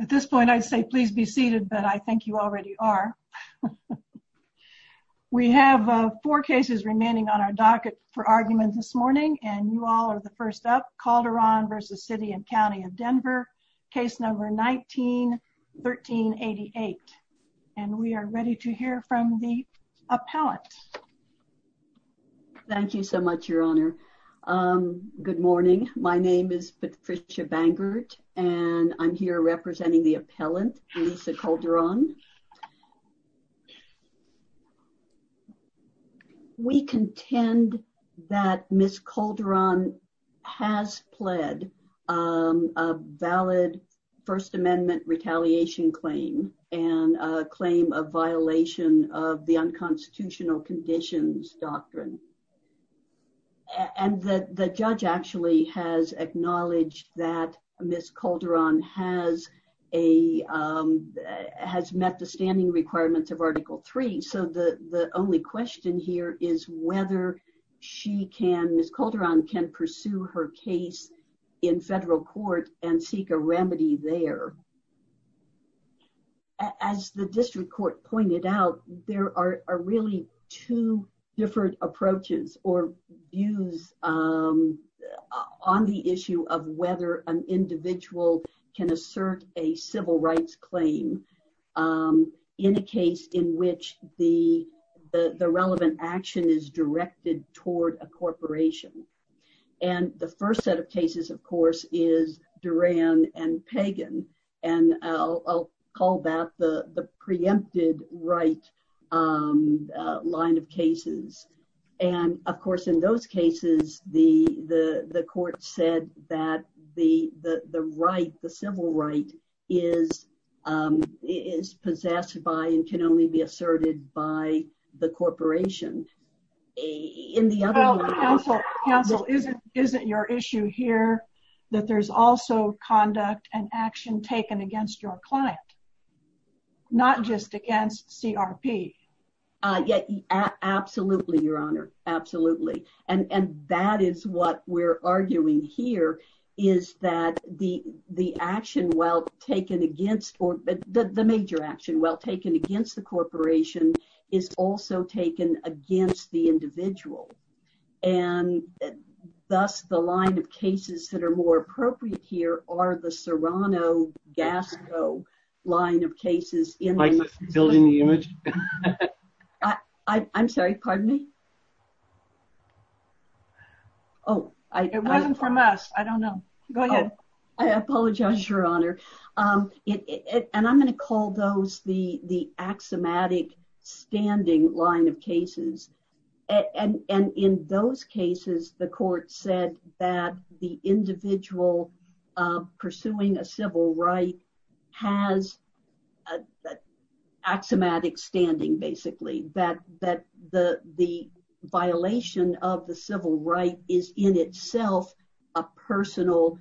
At this point, I'd say please be seated, but I think you already are. We have four cases remaining on our docket for argument this morning, and you all are the first up. Calderon v. City and County of Denver, case number 19-1388. And we are ready to hear from the appellant. Thank you so much, Your Honor. Good morning. My name is Patricia Bangert, and I'm here representing the appellant, Lisa Calderon. We contend that Ms. Calderon has pled a valid First Amendment retaliation claim and a claim of violation of the unconstitutional conditions doctrine. And the judge actually has acknowledged that Ms. Calderon has met the standing requirements of Article III, so the only question here is whether Ms. Calderon can pursue her case in federal court and seek a remedy there. As the district court pointed out, there are really two different approaches or views on the issue of whether an individual can assert a civil rights claim in a case in which the relevant action is directed toward a corporation. And the first set of cases, of course, is Duran and Pagan, and I'll call that the preempted right line of cases. And, of course, in those cases, the court said that the right, the civil right, is possessed by and can only be asserted by the corporation. In the other one... Counsel, isn't your issue here that there's also conduct and action taken against your client, not just against CRP? Absolutely, Your Honor, absolutely. And that is what we're arguing here, is that the action well taken against, or the major action well taken against the corporation is also taken against the individual. And thus, the line of cases that are more appropriate here are the Serrano-Gasco line of cases in... Building the image? I'm sorry, pardon me? Oh, it wasn't from us. I don't know. Go ahead. I apologize, Your Honor. And I'm going to call the axiomatic standing line of cases. And in those cases, the court said that the individual pursuing a civil right has axiomatic standing, basically, that the violation of the civil right is in itself a personal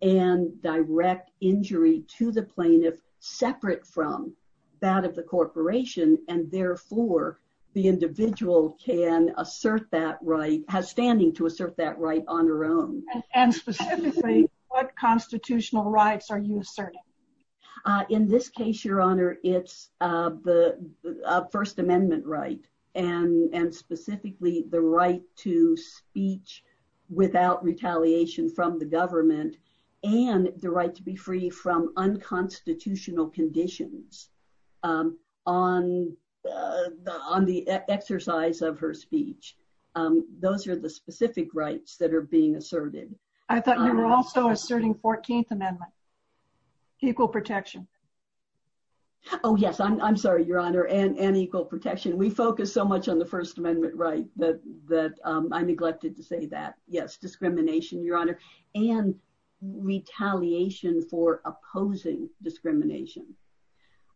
and direct injury to the plaintiff, separate from that of the corporation, and therefore, the individual can assert that right, has standing to assert that right on her own. And specifically, what constitutional rights are you asserting? In this case, Your Honor, it's the First Amendment right, and specifically the right to speech without retaliation from the government, and the right to be free from unconstitutional conditions on the exercise of her speech. Those are the specific rights that are being asserted. I thought you were also asserting 14th Amendment, equal protection. Oh, yes. I'm sorry, Your Honor, and equal protection. We focus so much on the First Amendment right that I neglected to say that. Yes, discrimination, Your Honor, and retaliation for opposing discrimination.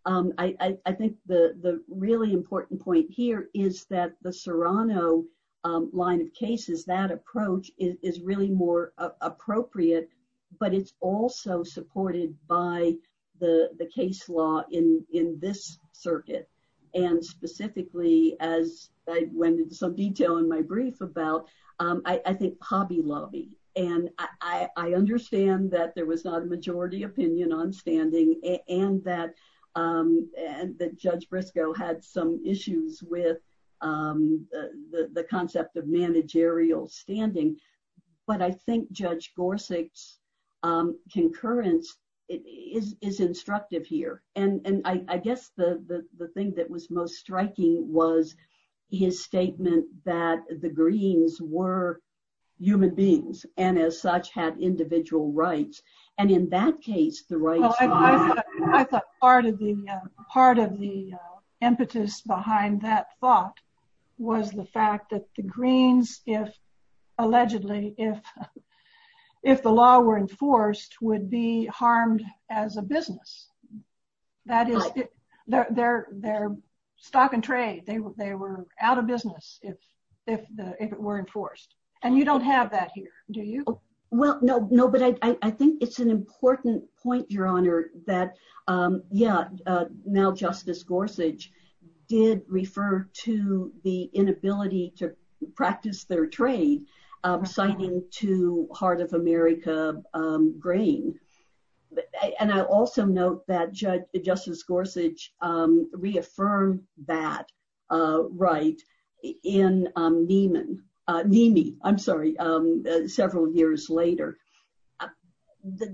I think the really important point here is that the Serrano line of cases, that approach is really more appropriate, but it's also supported by the case law in this circuit. And specifically, as I went into some detail in my brief about, I think Hobby Lobby. And I understand that there was not a majority opinion on standing, and that Judge Briscoe had some issues with the concept of managerial standing. But I think Judge Gorsuch's concurrence is instructive here. And I guess the thing that was most striking was his statement that the Greens were human beings, and as such, had individual rights. And in that case, the rights... I thought part of the impetus behind that thought was the fact that the Greens, if allegedly, if the law were enforced, would be harmed as a business. That is, they're stock and trade. They were out of business if it were no, no, no. But I think it's an important point, Your Honor, that yeah, now Justice Gorsuch did refer to the inability to practice their trade, reciting to Heart of America grain. And I also note that Justice Gorsuch reaffirmed that right in Neiman, Neiman, I'm sorry, several years later.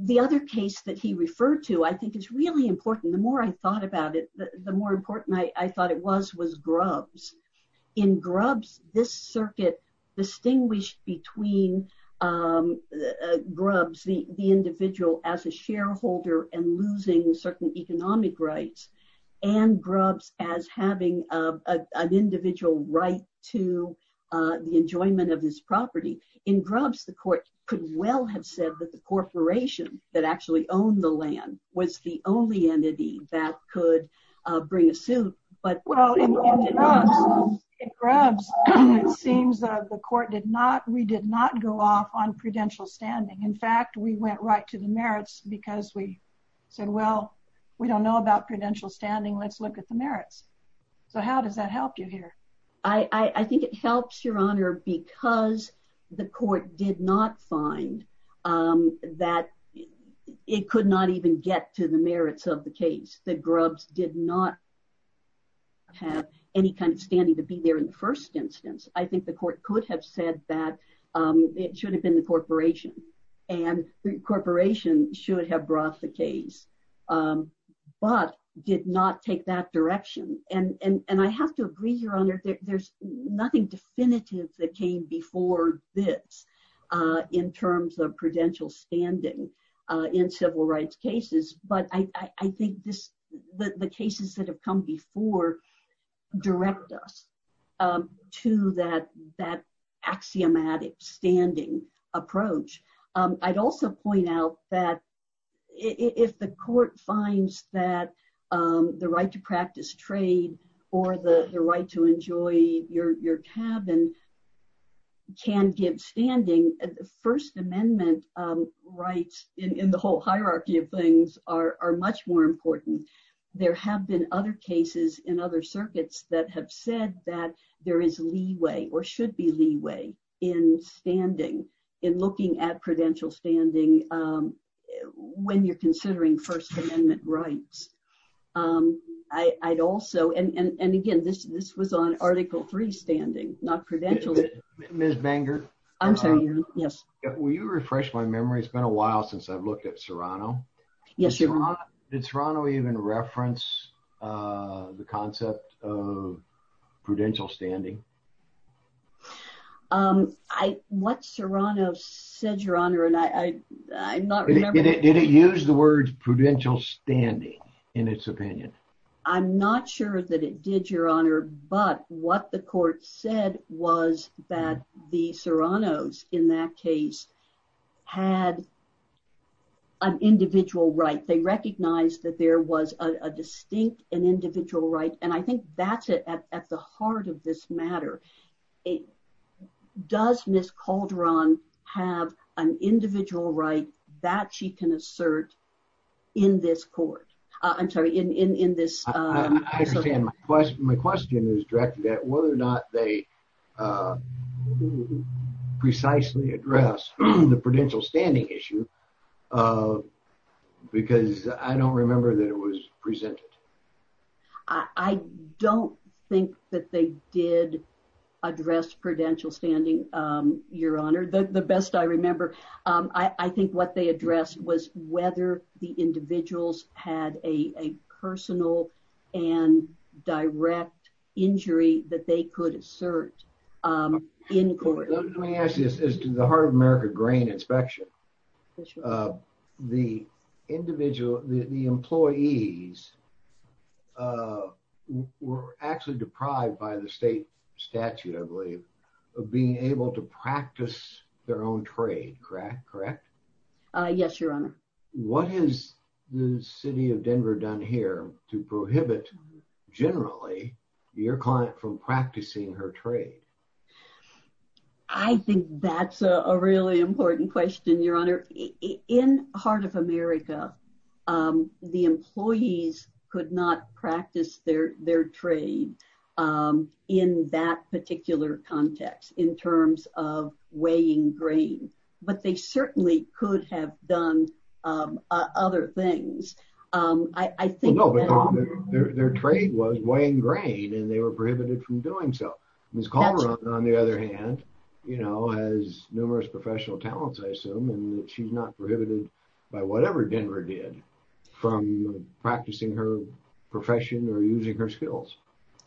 The other case that he referred to, I think, is really important. The more I thought about it, the more important I thought it was, was Grubbs. In Grubbs, this circuit distinguished between Grubbs, the individual as a shareholder and enjoyment of this property. In Grubbs, the court could well have said that the corporation that actually owned the land was the only entity that could bring a suit, but... Well, in Grubbs, it seems that the court did not, we did not go off on prudential standing. In fact, we went right to the merits because we said, well, we don't know about prudential standing, let's look at the merits. So how does that help you here? I think it helps, Your Honor, because the court did not find that it could not even get to the merits of the case. The Grubbs did not have any kind of standing to be there in the first instance. I think the court could have said that it should have been the corporation, and the corporation should have brought the case, but did not take that direction. And I have to agree, Your Honor, there's nothing definitive that came before this in terms of prudential standing in civil rights cases. But I think the cases that have come before direct us to that axiomatic standing approach. I'd also point out that if the court finds that the right to practice trade or the right to enjoy your cabin can give standing, the First Amendment rights in the whole hierarchy of things are much more important. There have been other cases in other circuits that have said that there is leeway or should be leeway in standing, in looking at prudential standing when you're considering First Amendment rights. I'd also, and again, this was on Article III standing, not prudential. Ms. Banger? I'm sorry, Your Honor. Yes. Will you refresh my memory? It's been a while since I've looked at Serrano. Yes, Your Honor. Did Serrano even reference the concept of prudential standing? What Serrano said, Your Honor, and I'm not remembering. Did it use the word prudential standing in its opinion? I'm not sure that it did, Your Honor, but what the court said was that the Serranos in that case had an individual right. They recognized that there was a distinct and individual right, and I think that's it at the heart of this matter. Does Ms. Calderon have an individual right that she can assert in this court? I'm sorry, in this- I understand. My question is directed at whether or not they precisely address the prudential standing issue because I don't remember that it was presented. I don't think that they did address prudential standing, Your Honor, the best I remember. I think what they addressed was whether the individuals had a personal and direct injury that they could assert in court. Let me ask you, as to the Heart of America grain inspection, the employees were actually deprived by the state statute, I believe, of being able to practice their own trade, correct? Yes, Your Honor. What has the city of Denver done here to prohibit, generally, your client from practicing her trade? I think that's a really important question, Your Honor. In Heart of America, the employees could not practice their trade in that particular context in terms of weighing grain, but they certainly could have done other things. I think- No, but their trade was weighing grain and they were prohibited from doing so. Ms. Calderon, on the other hand, has numerous professional talents, I assume, and she's not prohibited by whatever Denver did from practicing her profession or using her skills.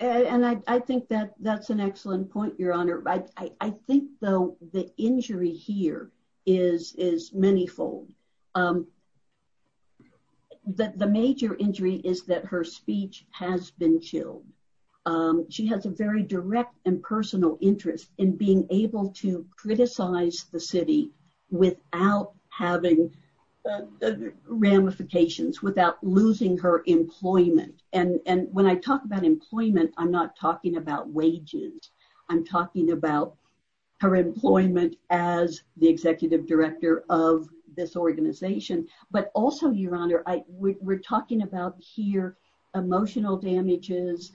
I think that's an excellent point, Your Honor. I think, though, the injury here is manyfold. The major injury is that her speech has been chilled. She has a very direct and personal interest in being able to criticize the city without having ramifications, without losing her employment. When I talk about employment, I'm not talking about wages. I'm talking about her employment as the executive director of this organization, but also, Your Honor, we're talking about here emotional damages,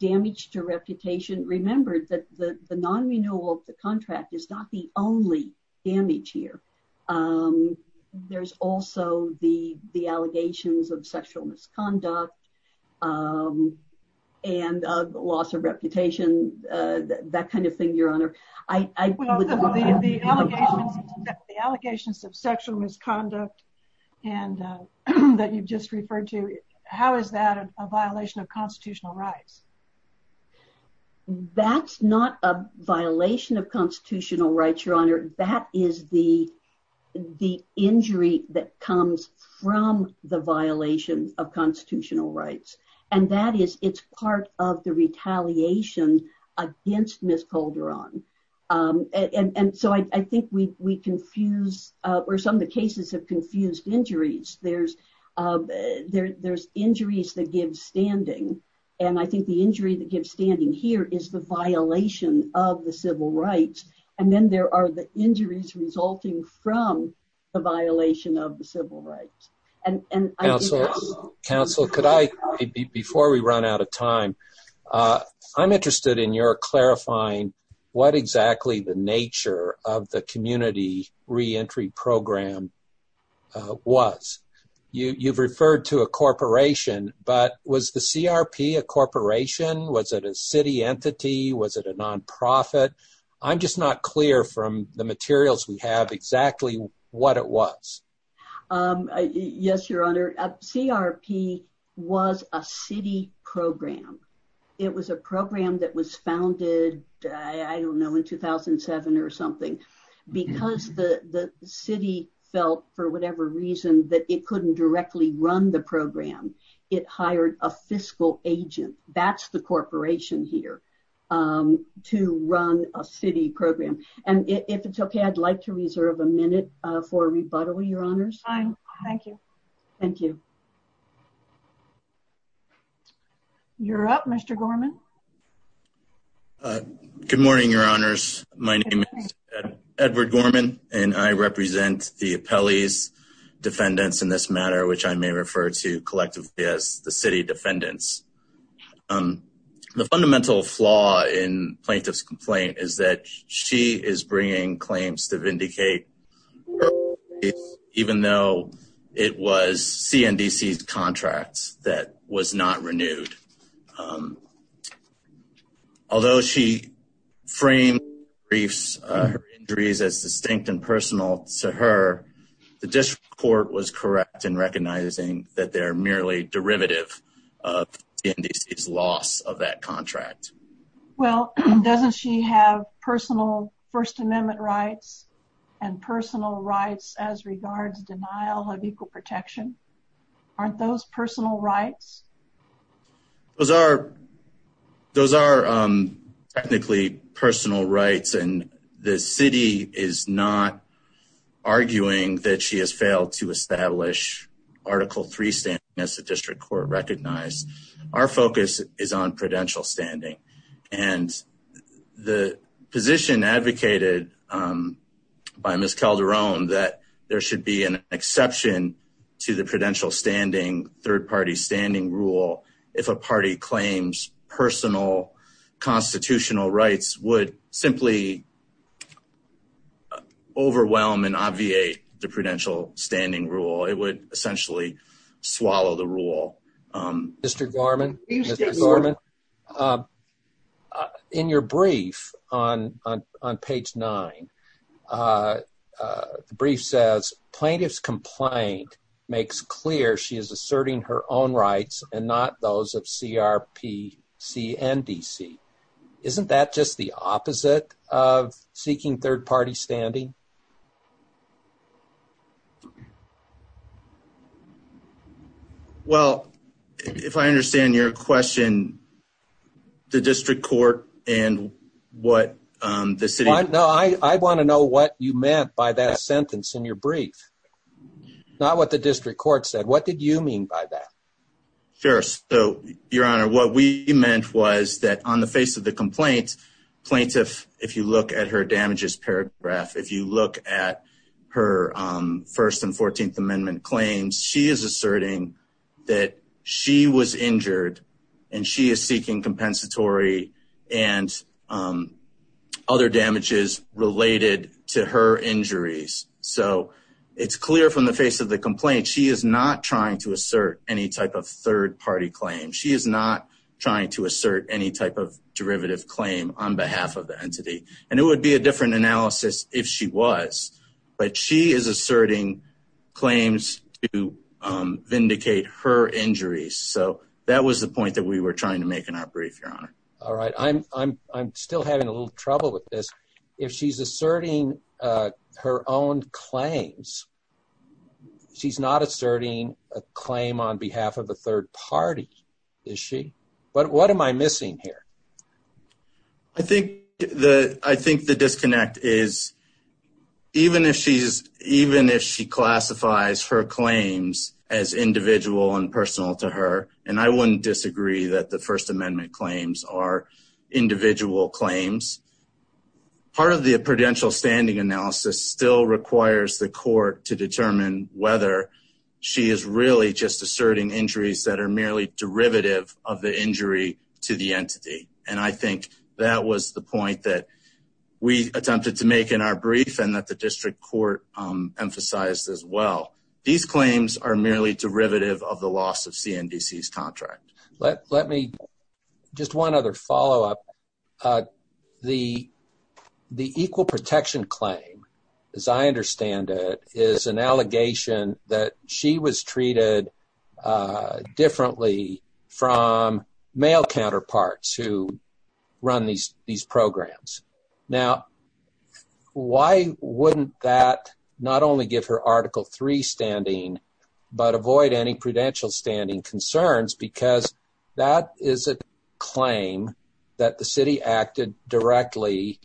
damage to reputation. Remember that the non-renewal of the contract is not the only damage here. There's also the allegations of sexual misconduct and of loss of reputation, that kind of thing, Your Honor. Well, the allegations of sexual misconduct that you've just referred to, how is that a violation of constitutional rights? That's not a violation of constitutional rights, Your Honor. That is the injury that comes from the violation of constitutional rights, and that is, it's part of the retaliation against Ms. Calderon. I think we confuse, or some of the cases have confused injuries. There's injuries that give standing, and I think the injury that gives standing here is the violation of the civil rights, and then there are the injuries resulting from the violation of the civil rights. Counsel, before we run out of time, I'm interested in your clarifying what exactly the nature of the community re-entry program was. You've referred to a corporation, but was the CRP a corporation? Was it a city entity? Was it a non-profit? I'm just not clear from the materials we have exactly what it was. Yes, Your Honor. CRP was a city program. It was a program that was founded, I don't know, in 2007 or something. Because the city felt, for whatever reason, that it couldn't directly run the program, it hired a fiscal agent. That's the corporation here, to run a city program. And if it's okay, I'd like to reserve a minute for rebuttal, Your Honors. Fine, thank you. Thank you. You're up, Mr. Gorman. Good morning, Your Honors. My name is Edward Gorman, and I represent the city defendants. The fundamental flaw in plaintiff's complaint is that she is bringing claims to vindicate, even though it was CNDC's contract that was not renewed. Although she framed her injuries as distinct and personal to her, the district court was correct in recognizing that they're merely derivative of CNDC's loss of that contract. Well, doesn't she have personal First Amendment rights and personal rights as regards denial of equal protection? Aren't those personal rights? Those are technically personal rights, and the city is not arguing that she has failed to establish Article III standing, as the district court recognized. Our focus is on prudential standing. And the position advocated by Ms. Calderon, that there should be an exception to the prudential standing, third-party standing rule, if a party claims personal constitutional rights, would simply overwhelm and obviate the prudential standing rule. It would essentially swallow the rule. Mr. Gorman, in your brief on page nine, the brief says, plaintiff's complaint makes clear she is asserting her own rights and not those of CRPC and DC. Isn't that just the opposite of seeking third-party standing? Well, if I understand your question, the district court and what the city... No, I want to know what you meant by that sentence in your brief, not what the district court said. What did you mean by that? Sure. So, Your Honor, what we meant was that on the face of the complaint, plaintiff, if you look at her damages paragraph, if you look at her First and Fourteenth Amendment claims, she is asserting that she was injured and she is seeking compensatory and other damages related to her injuries. So, it's clear from the face of the complaint, she is not trying to assert any type of third-party claim. She is not trying to assert any type of derivative claim on behalf of the entity. And it would be a different analysis if she was, but she is asserting claims to vindicate her injuries. So, that was the point that we were trying to make in our brief, Your Honor. All right. I'm still having a little trouble with this. If she's asserting her own claims, she's not asserting a claim on behalf of a third party, is she? What am I missing here? I think the disconnect is even if she classifies her claims as individual and personal to her, and I wouldn't disagree that the First Amendment claims are individual claims, part of the prudential standing analysis still requires the court to determine whether she is really just asserting injuries that are merely derivative of the injury to the entity. And I think that was the point that we attempted to make in our brief and that the district court emphasized as well. These claims are merely derivative of the loss of CNDC's contract. Let me just one other follow-up. The equal protection claim, as I understand it, is an allegation that she was treated differently from male counterparts who run these programs. Now, why wouldn't that not only give her Article 3 standing, but avoid any prudential standing concerns because that is a claim that the city acted directly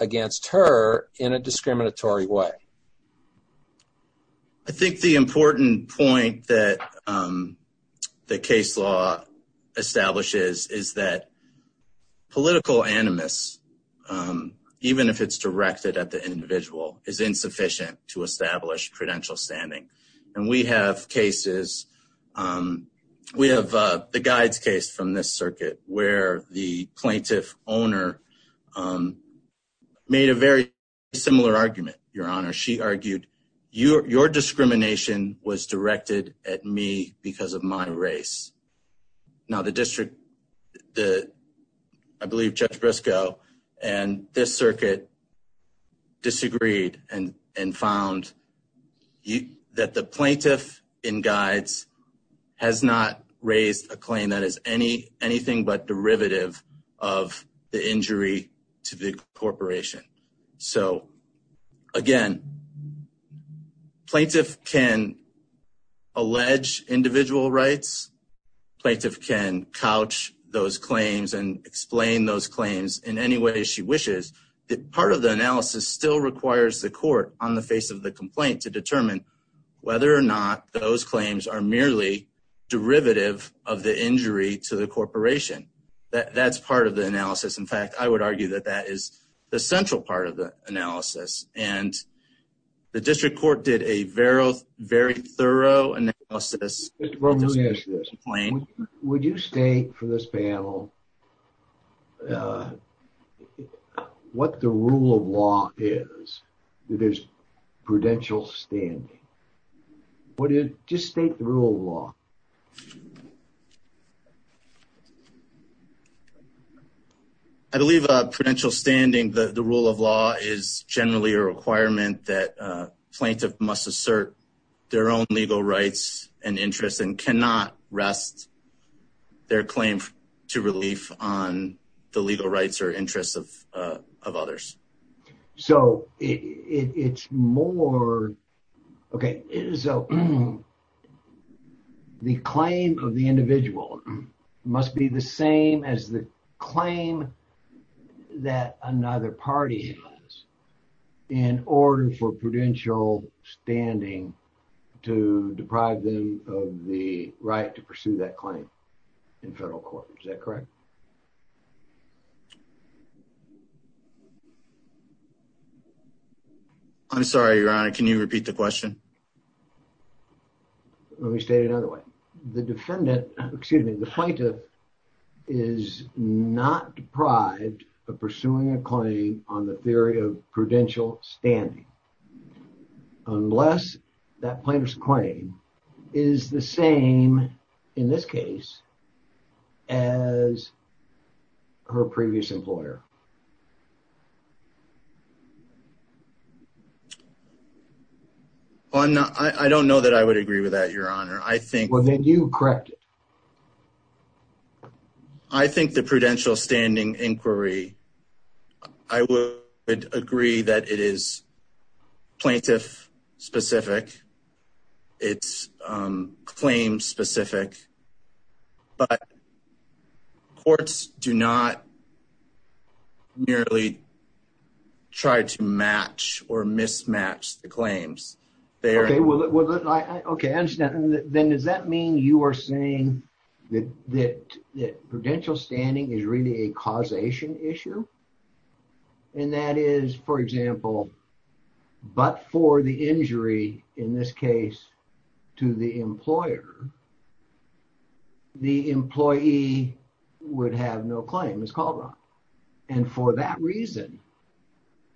against her in a discriminatory way? I think the important point that the case law establishes is that political animus, even if it's directed at the individual, is insufficient to establish prudential standing. And we have cases, we have the Guides case from this circuit where the plaintiff owner made a very similar argument, Your Honor. She argued, your discrimination was directed at me because of my race. Now, the district, I believe Judge Briscoe and this circuit disagreed and found that the plaintiff in Guides has not raised a claim that is anything but derivative of the injury to the corporation. So, again, plaintiff can allege individual rights, plaintiff can couch those claims and explain those claims in any way she wishes. Part of the analysis still requires the court on the face of the complaint to determine whether or not those claims are merely derivative of the injury to the corporation. That's part of the analysis. In fact, I would argue that that is the central part of the analysis. And the district court did a very thorough analysis. Mr. Bromley, would you state for this panel what the rule of law is, that there's prudential standing? Would you just state the rule of law? I believe prudential standing, the rule of law is generally a requirement that plaintiff must assert their own legal rights and interests and cannot rest their claim to relief on the legal rights or interests of others. So, it's more, okay, so the claim of the individual must be the same as the claim that another party has in order for prudential standing to deprive them of the right to pursue that claim in federal court. Is that correct? I'm sorry, your honor. Can you repeat the question? Let me state it another way. The defendant, excuse me, the plaintiff is not deprived of the theory of prudential standing unless that plaintiff's claim is the same, in this case, as her previous employer. Well, I'm not, I don't know that I would agree with that, your honor. I think... Well, then you correct it. I think the prudential standing inquiry, I would agree that it is plaintiff-specific, it's claim-specific, but courts do not merely try to match or mismatch the claims. Okay, well, then does that mean you are saying that prudential standing is really a causation issue? And that is, for example, but for the injury, in this case, to the employer, the employee would have no claim. It's called that. And for that reason,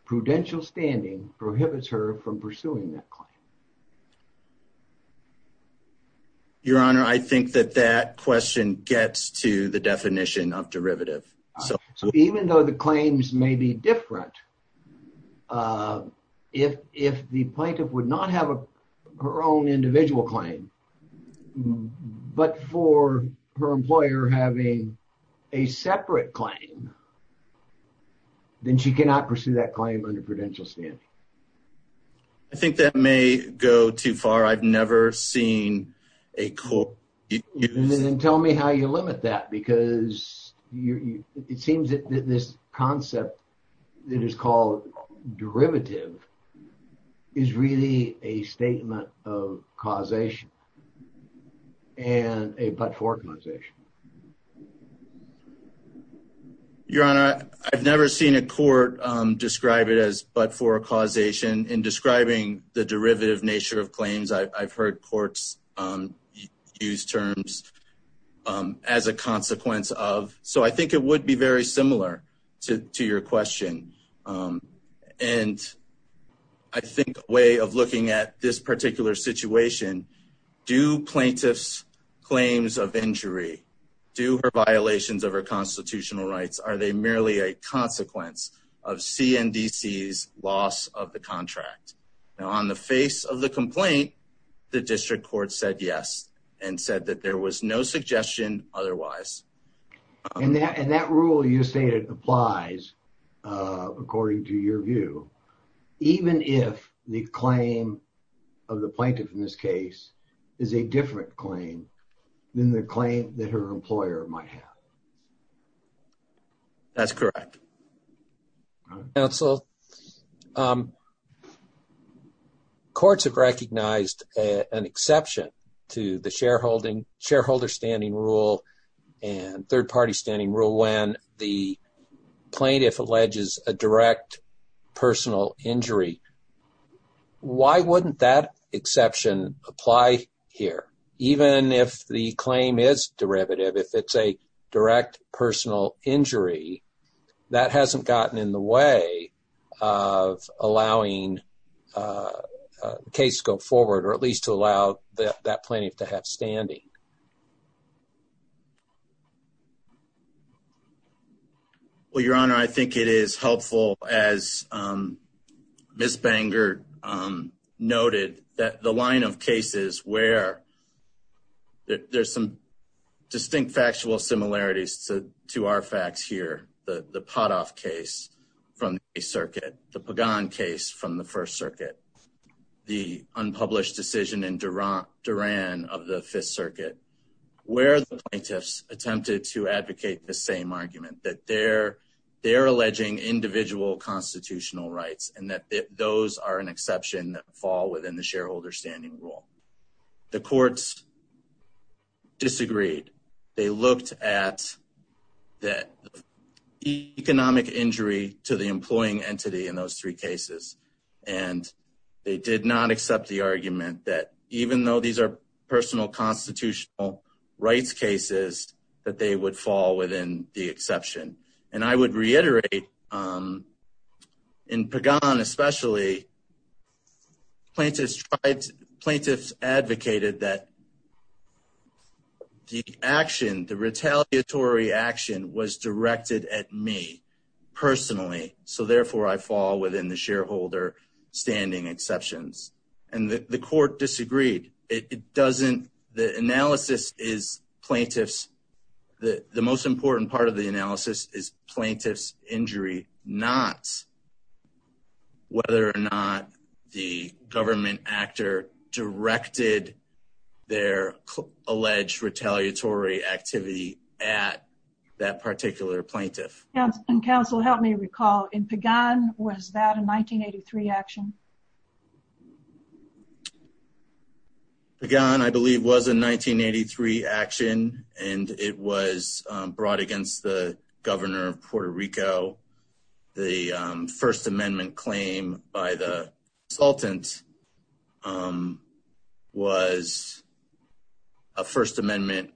prudential standing prohibits her from pursuing that claim. Your honor, I think that that question gets to the definition of derivative. So, even though the claims may be different, if the plaintiff would not have her own individual claim, but for her employer having a separate claim, then she cannot pursue that claim under prudential standing. I think that may go too far. I've never seen a court... Then tell me how you limit that, because it seems that this concept that is called derivative is really a statement of causation and a but-for causation. Your honor, I've never seen a court describe it as but-for causation. In describing the derivative nature of claims, I've heard courts use terms as a consequence of. So, I think it would be very similar to your question. And I think a way of looking at this particular situation, do plaintiff's claims of injury, do her violations of her constitutional rights, are they merely a consequence of CNDC's loss of the contract? Now, on the face of the complaint, the district court said yes and said that there was no suggestion otherwise. And that rule you stated applies, according to your view, even if the claim of the plaintiff in this case is a different claim than the claim that her employer might have. That's correct. Counsel, courts have recognized an exception to the shareholder standing rule and third-party standing rule when the plaintiff alleges a direct personal injury. Why wouldn't that exception apply here? Even if the claim is derivative, if it's a direct personal injury, that hasn't gotten in the way of allowing a case to go forward, or at least to allow that plaintiff to have standing. Well, Your Honor, I think it is helpful, as Ms. Bangert noted, that the line of cases where there's some distinct factual similarities to our facts here, the Padoff case from the Eighth Circuit, the Pagan case from the First Circuit, the unpublished decision in Duran of the Fifth Circuit, where the plaintiffs attempted to advocate the same argument, that they're alleging individual constitutional rights and that those are an exception that fall within the shareholder standing rule. The courts disagreed. They looked at that economic injury to the employing entity in those three cases, and they did not accept the argument that, even though these are personal constitutional rights cases, that they would fall within the exception. And I would reiterate, in Pagan especially, plaintiffs advocated that the action, the retaliatory action, was directed at me personally, so therefore I fall within the shareholder standing exceptions. And the court disagreed. It doesn't, the analysis is plaintiffs, the most important part of the analysis is plaintiff's injury, not whether or not the government actor directed their recall. In Pagan, was that a 1983 action? Pagan, I believe, was a 1983 action, and it was brought against the governor of Puerto Rico. The First Amendment claim by the consultant was a First Amendment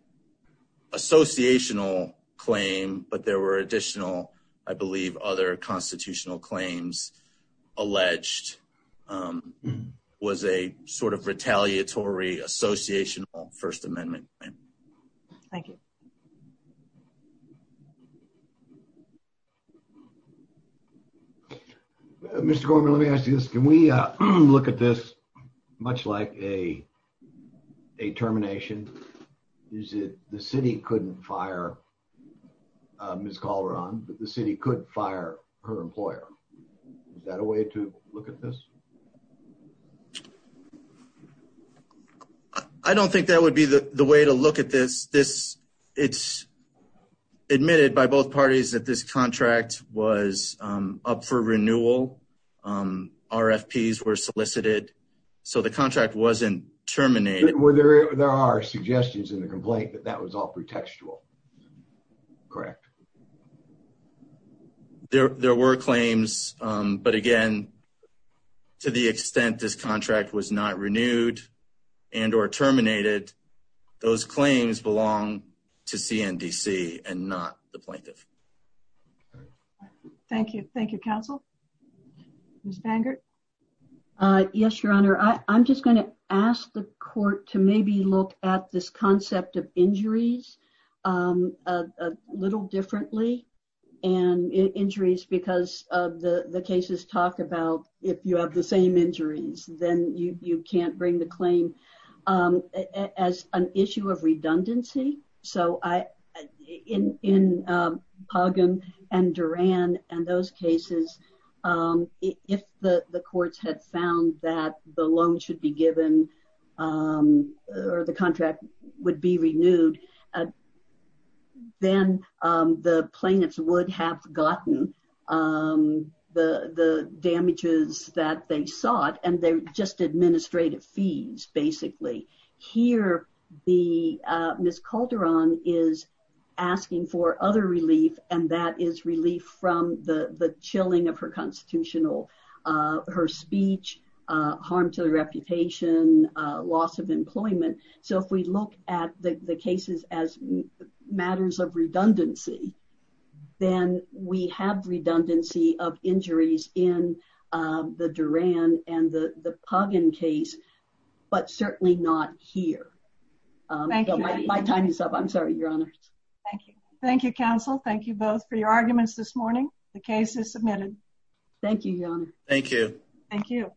associational claim, but there were additional, I believe, other constitutional claims alleged was a sort of retaliatory associational First Amendment claim. Thank you. Mr. Gorman, let me ask you this. Can we look at this much like a termination? The city couldn't fire Ms. Calderon, but the city could fire her employer. Is that a way to look at this? I don't think that would be the way to look at this. It's admitted by both parties that this contract was up for renewal. RFPs were solicited, so the contract wasn't terminated. Well, there are suggestions in the complaint that that was all pretextual, correct? There were claims, but again, to the extent this contract was not renewed and or terminated, those claims belong to CNDC and not the plaintiff. Thank you. Thank you, counsel. Ms. Bangert? Yes, Your Honor. I'm just going to ask the court to maybe look at this concept of injuries a little differently. Injuries, because the cases talk about if you have the same injuries, then you can't bring the claim as an issue of redundancy. In Pagan and Duran and those cases, if the courts had found that the loan should be given or the contract would be renewed, then the plaintiffs would have gotten the damages that they sought, and they're just administrative fees, basically. Here, Ms. Calderon is asking for other relief, and that is relief from the chilling of her constitutional, her speech, harm to the reputation, loss of employment. So, if we look at the cases as matters of redundancy, then we have redundancy of injuries in the Duran and the Pagan case, but certainly not here. My time is up. I'm sorry, Your Honor. Thank you. Thank you, counsel. Thank you both for your arguments this morning. The case is submitted. Thank you, Your Honor. Thank you. Thank you.